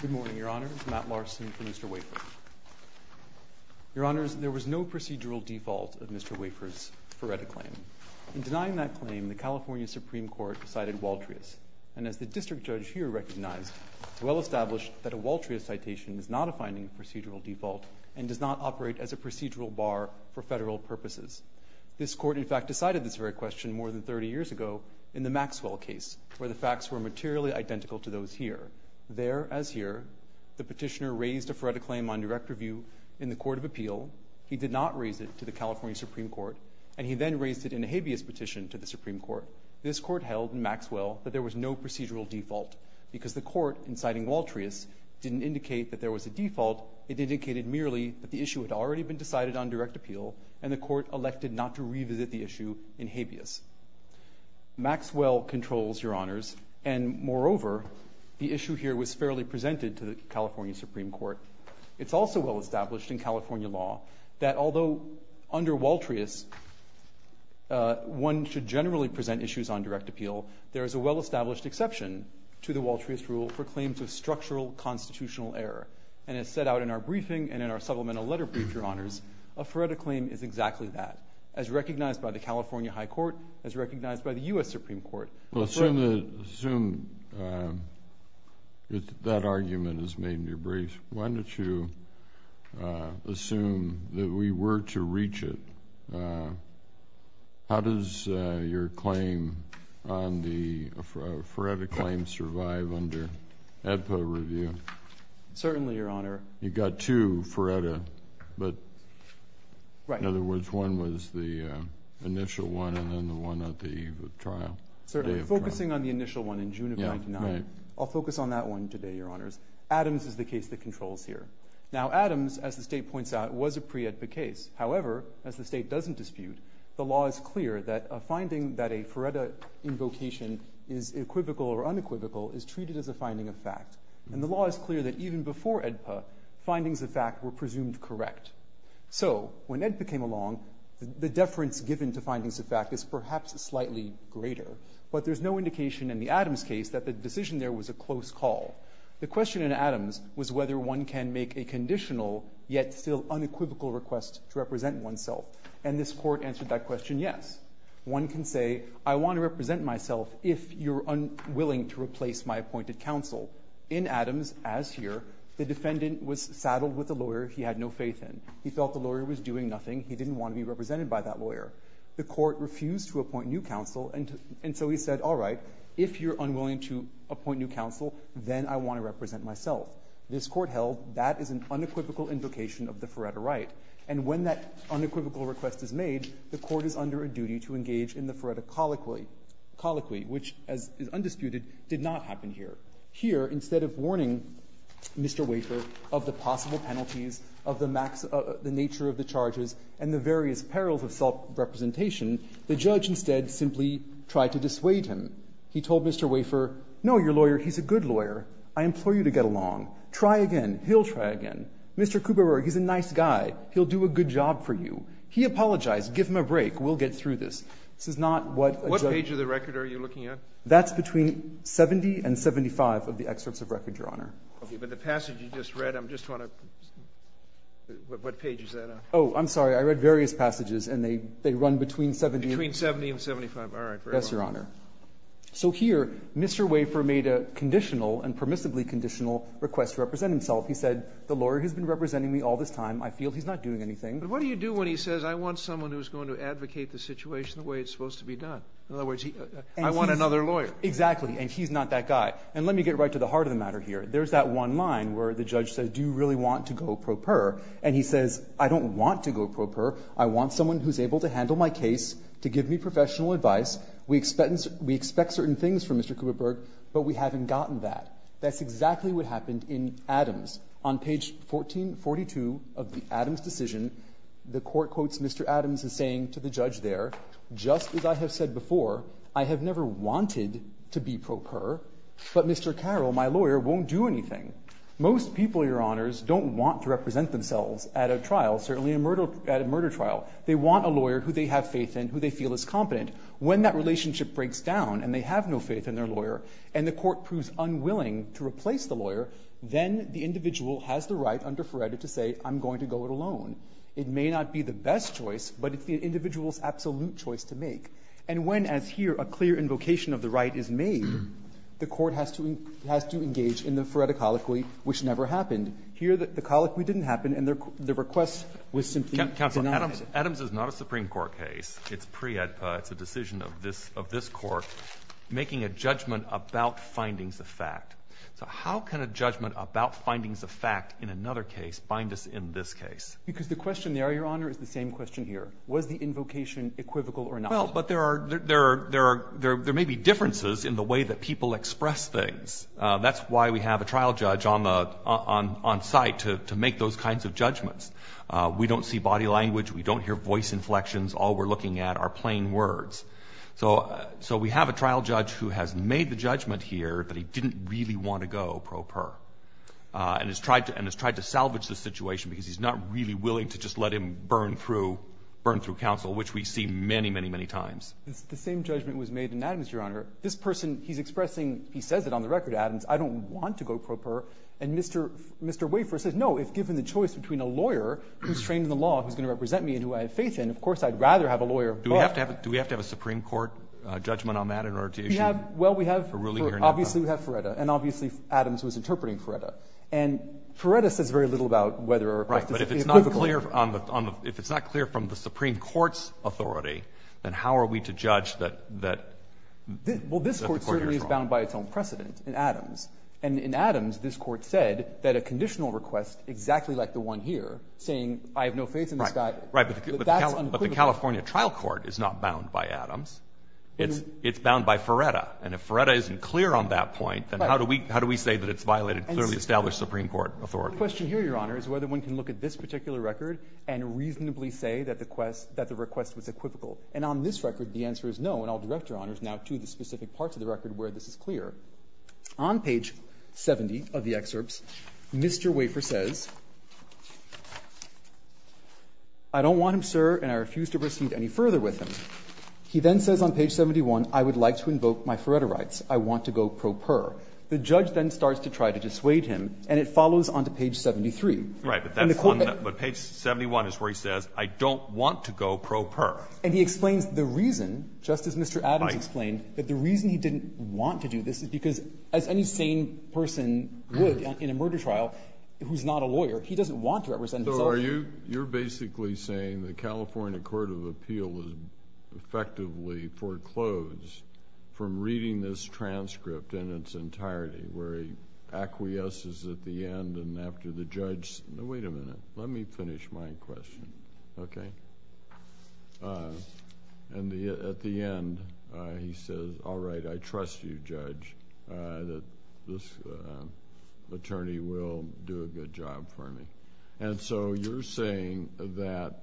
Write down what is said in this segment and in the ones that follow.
Good morning, Your Honor. It's Matt Larson for Mr. Wafer. Your Honors, there was no procedural default of Mr. Wafer's Feretta claim. In denying that claim, the California Supreme Court decided Waltrius. And as the District Judge here recognized, it's well established that a Waltrius citation is not a finding of procedural default and does not operate as a procedural bar for federal purposes. This Court, in fact, decided this very question more than 30 years ago in the Maxwell case, where the facts were materially identical to those here. There, as here, the petitioner raised a Feretta claim on direct review in the Court of Appeal. He did not raise it to the California Supreme Court. And he then raised it in a habeas petition to the Supreme Court. This Court held in Maxwell that there was no procedural default because the Court, in citing Waltrius, didn't indicate that there was a default. It indicated merely that the issue had already been decided on direct appeal, and the Court elected not to revisit the issue in habeas. Maxwell controls, Your Honors. And moreover, the issue here was fairly presented to the California Supreme Court. It's also well established in California law that although under Waltrius one should generally present issues on direct appeal, there is a well-established exception to the Waltrius rule for claims of structural constitutional error. And as set out in our briefing and in our supplemental letter brief, Your Honors, a Feretta claim is exactly that. As recognized by the California High Court, as recognized by the U.S. Supreme Court. Well, assume that argument is made in your brief. Why don't you assume that we were to reach it. How does your claim on the Feretta claim survive under ADPA review? Certainly, Your Honor. You've got two Feretta, but in other words, one was the initial one and then the one at the trial. Certainly. Focusing on the initial one in June of 1999, I'll focus on that one today, Your Honors. Adams is the case that controls here. Now Adams, as the State points out, was a pre-ADPA case. However, as the State doesn't dispute, the law is clear that a finding that a Feretta invocation is equivocal or unequivocal is treated as a finding of fact. And the law is clear that even before ADPA, findings of fact were presumed correct. So when ADPA came along, the deference given to findings of fact is perhaps slightly greater. But there's no indication in the Adams case that the decision there was a close call. The question in Adams was whether one can make a conditional yet still unequivocal request to represent oneself. And this court answered that question, yes. One can say, I want to represent myself if you're unwilling to replace my appointed counsel. In Adams, as here, the defendant was saddled with a lawyer he had no faith in. He felt the lawyer was doing nothing. He didn't want to be represented by that lawyer. The court refused to appoint new counsel, and so he said, all right, if you're unwilling to appoint new counsel, then I want to represent myself. This court held that is an unequivocal invocation of the Feretta right. And when that unequivocal request is made, the court is under a duty to engage in the Feretta colloquy, which, as is undisputed, did not happen here. Here, instead of warning Mr. Wafer of the possible penalties, of the nature of the charges and the various perils of self-representation, the judge instead simply tried to dissuade him. He told Mr. Wafer, no, your lawyer, he's a good lawyer. I implore you to get along. Try again. He'll try again. Mr. Kuberer, he's a nice guy. He'll do a good job for you. He apologized. Give him a break. We'll get through this. This is not what a judge. Scalia, what page of the record are you looking at? That's between 70 and 75 of the excerpts of record, Your Honor. Okay. But the passage you just read, I'm just trying to see what page is that on. Oh, I'm sorry. I read various passages, and they run between 70 and 75. Between 70 and 75. All right. Very well. Yes, Your Honor. So here, Mr. Wafer made a conditional and permissibly conditional request to represent himself. He said, the lawyer has been representing me all this time. I feel he's not doing anything. But what do you do when he says, I want someone who's going to advocate the situation the way it's supposed to be done? In other words, I want another lawyer. Exactly. And he's not that guy. And let me get right to the heart of the matter here. There's that one line where the judge says, do you really want to go pro per? And he says, I don't want to go pro per. I want someone who's able to handle my case, to give me professional advice. We expect certain things from Mr. Kuberer, but we haven't gotten that. That's exactly what happened in Adams. On page 1442 of the Adams decision, the Court quotes Mr. Adams as saying to the judge there, just as I have said before, I have never wanted to be pro per, but Mr. Carroll, my lawyer, won't do anything. Most people, Your Honors, don't want to represent themselves at a trial, certainly at a murder trial. They want a lawyer who they have faith in, who they feel is competent. When that relationship breaks down and they have no faith in their lawyer and the judge is planning to replace the lawyer, then the individual has the right under Feretta to say, I'm going to go it alone. It may not be the best choice, but it's the individual's absolute choice to make. And when, as here, a clear invocation of the right is made, the Court has to engage in the Feretta colloquy, which never happened. Here, the colloquy didn't happen, and the request was simply denied. Adams is not a Supreme Court case. It's pre-EDPA. It's a decision of this Court making a judgment about findings of fact. So how can a judgment about findings of fact in another case bind us in this case? Because the question there, Your Honor, is the same question here. Was the invocation equivocal or not? Well, but there are – there may be differences in the way that people express things. That's why we have a trial judge on site to make those kinds of judgments. We don't see body language. We don't hear voice inflections. All we're looking at are plain words. So we have a trial judge who has made the judgment here that he didn't really want to go pro per, and has tried to salvage the situation because he's not really willing to just let him burn through counsel, which we see many, many, many times. The same judgment was made in Adams, Your Honor. This person, he's expressing – he says it on the record, Adams, I don't want to go pro per. And Mr. Wafer says, no, if given the choice between a lawyer who's trained in the Do we have to have a – do we have to have a Supreme Court judgment on that in order to issue a ruling here now? We have – well, we have – obviously, we have Feretta. And obviously, Adams was interpreting Feretta. And Feretta says very little about whether a request is equivocal. Right. But if it's not clear on the – if it's not clear from the Supreme Court's authority, then how are we to judge that the court here is wrong? Well, this Court certainly is bound by its own precedent in Adams. And in Adams, this Court said that a conditional request exactly like the one here, saying I have no faith in this guy – Right. But that's unequivocal. But the California trial court is not bound by Adams. It's bound by Feretta. And if Feretta isn't clear on that point, then how do we say that it's violated clearly established Supreme Court authority? The question here, Your Honor, is whether one can look at this particular record and reasonably say that the request was equivocal. And on this record, the answer is no. And I'll direct Your Honors now to the specific parts of the record where this is clear. On page 70 of the excerpts, Mr. Wafer says, I don't want him, sir, and I refuse to proceed any further with him. He then says on page 71, I would like to invoke my Feretta rights. I want to go pro per. The judge then starts to try to dissuade him, and it follows on to page 73. And the claim that – Right. But page 71 is where he says, I don't want to go pro per. And he explains the reason, just as Mr. Adams explained, that the reason he didn't want to do this is because, as any sane person would in a murder trial, who's not a lawyer, he doesn't want to represent himself. So you're basically saying the California Court of Appeal effectively foreclosed from reading this transcript in its entirety, where he acquiesces at the end and after the judge – no, wait a minute. Let me finish my question. Okay? And at the end, he says, all right, I trust you, Judge, that this attorney will do a good job for me. And so you're saying that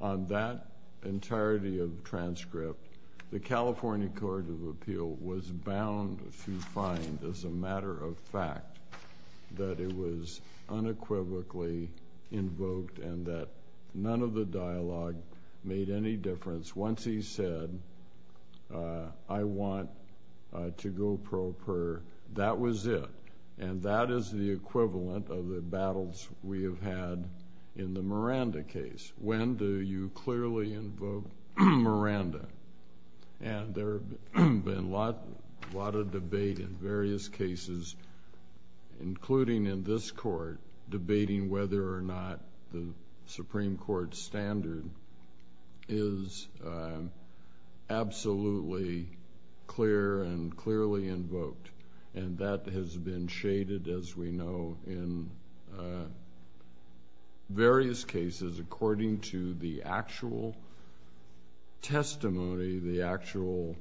on that entirety of the transcript, the California Court of Appeal was bound to find, as a matter of fact, that it was unequivocally invoked and that none of the dialogue made any difference. Once he said, I want to go pro per, that was it. And that is the equivalent of the battles we have had in the Miranda case. When do you clearly invoke Miranda? And there have been a lot of debate in various cases, including in this court, debating whether or not the Supreme Court standard is absolutely clear and clearly invoked. And that has been shaded, as we know, in various cases according to the actual testimony, the actual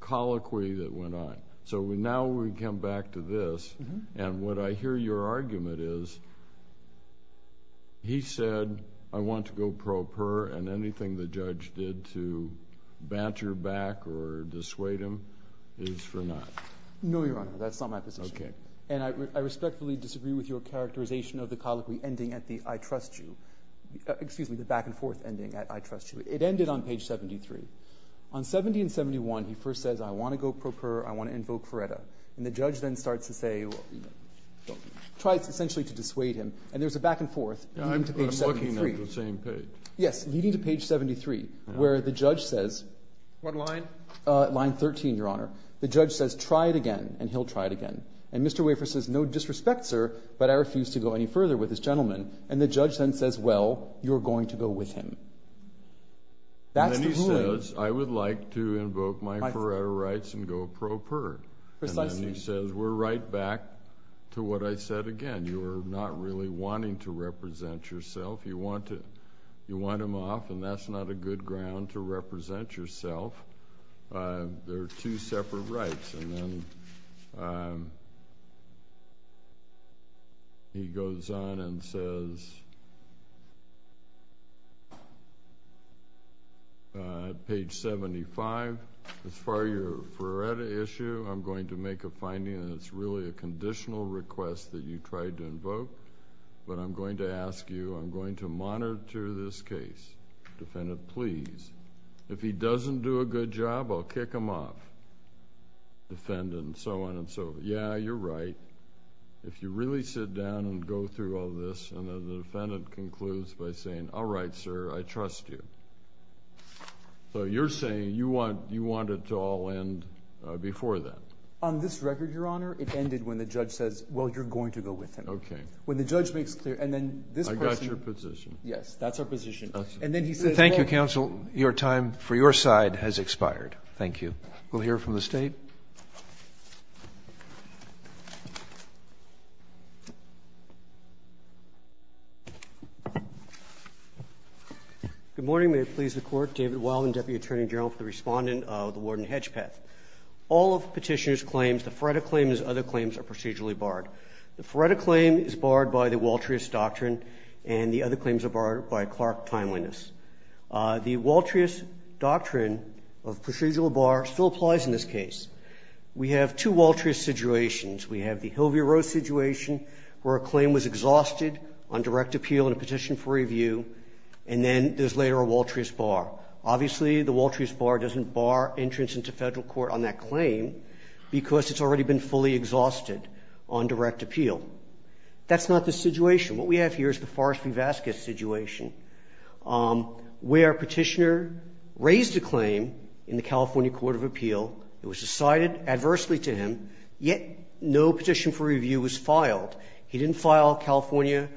colloquy that went on. So now we come back to this. And what I hear your argument is he said, I want to go pro per, and anything the judge did to banter back or dissuade him is for naught. No, Your Honor, that's not my position. Okay. And I respectfully disagree with your characterization of the colloquy ending at the I trust you, excuse me, the back and forth ending at I trust you. It ended on page 73. On 70 and 71, he first says, I want to go pro per, I want to invoke Feretta. And the judge then starts to say, well, you know, try essentially to dissuade him. And there's a back and forth. I'm looking at the same page. Yes, leading to page 73, where the judge says. What line? Line 13, Your Honor. The judge says, try it again, and he'll try it again. And Mr. Wafer says, no disrespect, sir, but I refuse to go any further with this gentleman. And the judge then says, well, you're going to go with him. That's the ruling. And then he says, I would like to invoke my Feretta rights and go pro per. Precisely. And then he says, we're right back to what I said again. You are not really wanting to represent yourself. You want him off, and that's not a good ground to represent yourself. There are two separate rights. And then he goes on and says, page 75, as far as your Feretta issue, I'm going to make a finding that it's really a conditional request that you tried to invoke. But I'm going to ask you, I'm going to monitor this case. Defendant, please. If he doesn't do a good job, I'll kick him off. Defendant, and so on and so forth. Yeah, you're right. If you really sit down and go through all this, and the defendant concludes by saying, all right, sir, I trust you. So you're saying you want it to all end before that. On this record, Your Honor, it ended when the judge says, well, you're going to go with him. Okay. When the judge makes clear. And then this person. I got your position. Yes, that's our position. And then he says, well. Thank you, counsel. Your time for your side has expired. Thank you. We'll hear from the State. Good morning. May it please the Court. David Wilden, Deputy Attorney General for the Respondent of the Warden-Hedgepeth. All of Petitioner's claims, the Feretta claims and other claims are procedurally barred. The Feretta claim is barred by the Waltrius Doctrine, and the other claims are barred by Clark Timeliness. The Waltrius Doctrine of procedural bar still applies in this case. We have two Waltrius situations. We have the Hill v. Roe situation, where a claim was exhausted on direct appeal and a petition for review, and then there's later a Waltrius bar. Obviously, the Waltrius bar doesn't bar entrance into Federal court on that claim because it's already been fully exhausted on direct appeal. That's not the situation. What we have here is the Forrest v. Vasquez situation, where Petitioner raised a claim in the California Court of Appeal. It was decided adversely to him, yet no petition for review was filed. He didn't file California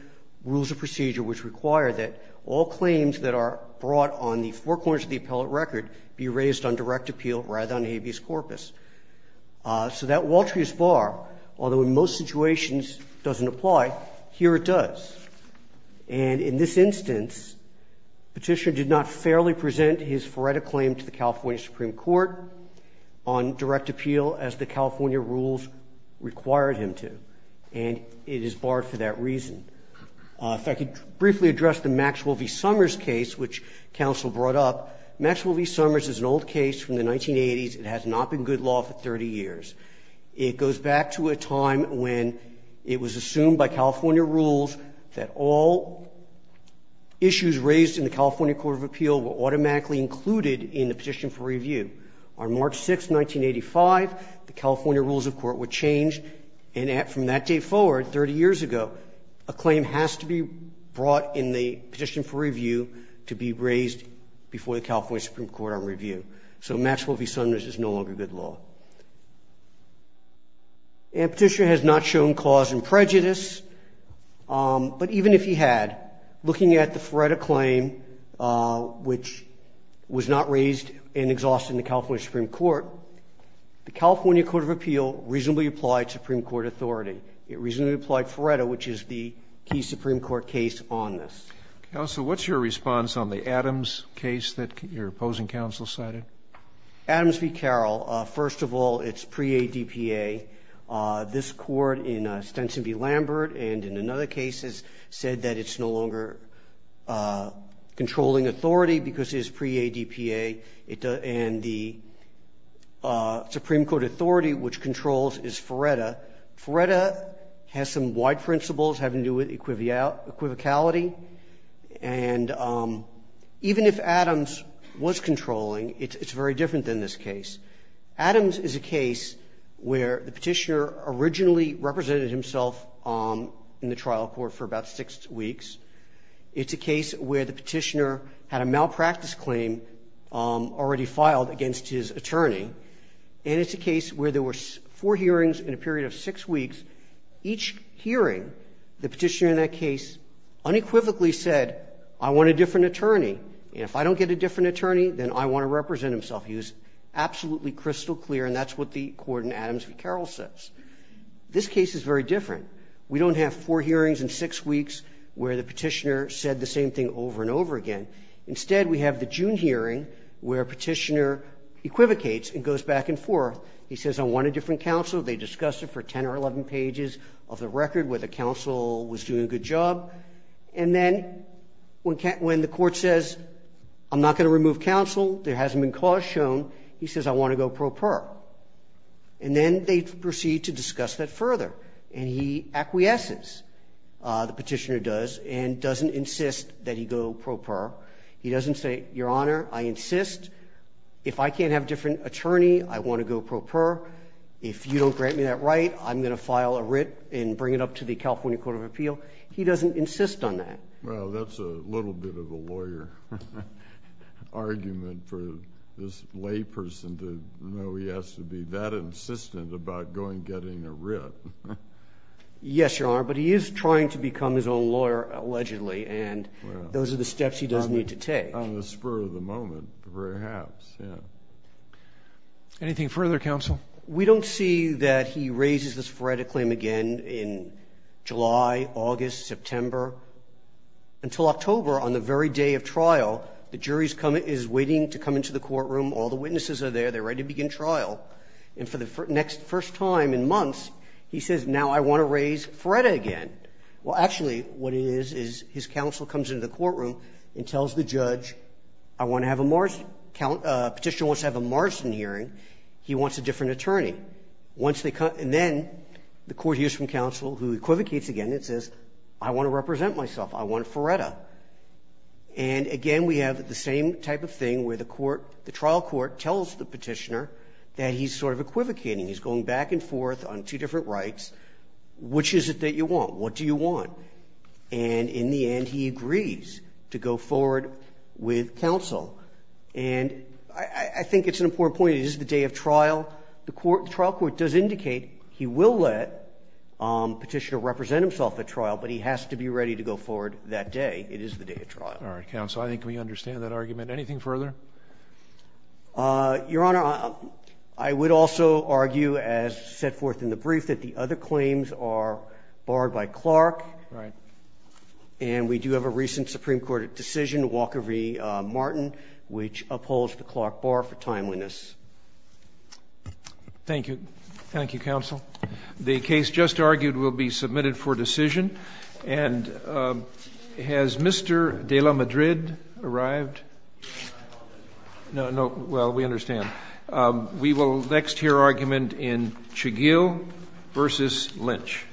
Rules of Procedure, which require that all claims that are brought on the four corners of the appellate record be raised on direct appeal rather than habeas corpus. So that Waltrius bar, although in most situations doesn't apply, here it does. And in this instance, Petitioner did not fairly present his Feretta claim to the California Supreme Court on direct appeal as the California rules required him to, and it is barred for that reason. If I could briefly address the Maxwell v. Summers case, which counsel brought up, Maxwell v. Summers is an old case from the 1980s. It has not been good law for 30 years. It goes back to a time when it was assumed by California rules that all issues raised in the California Court of Appeal were automatically included in the petition for review. On March 6, 1985, the California rules of court were changed, and from that date forward, 30 years ago, a claim has to be brought in the petition for review to be raised before the California Supreme Court on review. So Maxwell v. Summers is no longer good law. And Petitioner has not shown cause and prejudice, but even if he had, looking at the Feretta claim, which was not raised and exhausted in the California Supreme Court, the California Court of Appeal reasonably applied Supreme Court authority. It reasonably applied Feretta, which is the key Supreme Court case on this. Roberts. Counsel, what's your response on the Adams case that your opposing counsel cited? Adams v. Carroll. First of all, it's pre-ADPA. This Court in Stenson v. Lambert and in another case has said that it's no longer controlling authority because it's pre-ADPA, and the Supreme Court authority which controls is Feretta. Feretta has some wide principles having to do with equivocality. And even if Adams was controlling, it's very different than this case. Adams is a case where the Petitioner originally represented himself in the trial court for about six weeks. It's a case where the Petitioner had a malpractice claim already filed against his attorney. And it's a case where there were four hearings in a period of six weeks. Each hearing, the Petitioner in that case unequivocally said, I want a different attorney. And if I don't get a different attorney, then I want to represent himself. He was absolutely crystal clear. And that's what the court in Adams v. Carroll says. This case is very different. We don't have four hearings in six weeks where the Petitioner said the same thing over and over again. Instead, we have the June hearing where Petitioner equivocates and goes back and forth. He says, I want a different counsel. They discussed it for 10 or 11 pages of the record where the counsel was doing a good job. And then when the court says, I'm not going to remove counsel, there hasn't been cause shown, he says, I want to go pro par. And then they proceed to discuss that further. And he acquiesces, the Petitioner does, and doesn't insist that he go pro par. He doesn't say, Your Honor, I insist, if I can't have a different attorney, I want to go pro par. If you don't grant me that right, I'm going to file a writ and bring it up to the California Court of Appeal. He doesn't insist on that. Well, that's a little bit of a lawyer argument for this lay person to know he has to be that insistent about going and getting a writ. Yes, Your Honor. But he is trying to become his own lawyer, allegedly. And those are the steps he does need to take. On the spur of the moment, perhaps, yes. Anything further, counsel? We don't see that he raises this Feretta claim again in July, August, September, until October on the very day of trial. The jury is waiting to come into the courtroom. All the witnesses are there. They're ready to begin trial. And for the next first time in months, he says, Now I want to raise Feretta again. Well, actually, what it is, is his counsel comes into the courtroom and tells the judge, I want to have a Marsden. Petitioner wants to have a Marsden hearing. He wants a different attorney. And then the court hears from counsel, who equivocates again and says, I want to represent myself. I want Feretta. And, again, we have the same type of thing where the trial court tells the petitioner that he's sort of equivocating. He's going back and forth on two different rights. Which is it that you want? What do you want? And in the end, he agrees to go forward with counsel. And I think it's an important point. It is the day of trial. The trial court does indicate he will let Petitioner represent himself at trial, but he has to be ready to go forward that day. It is the day of trial. Roberts. I think we understand that argument. Anything further? Your Honor, I would also argue, as set forth in the brief, that the other claims are barred by Clark. Right. And we do have a recent Supreme Court decision, Walker v. Martin, which upholds the Clark bar for timeliness. Thank you. Thank you, counsel. The case just argued will be submitted for decision. And has Mr. de la Madrid arrived? No. Well, we understand. We will next hear argument in Chagill v. Lynch.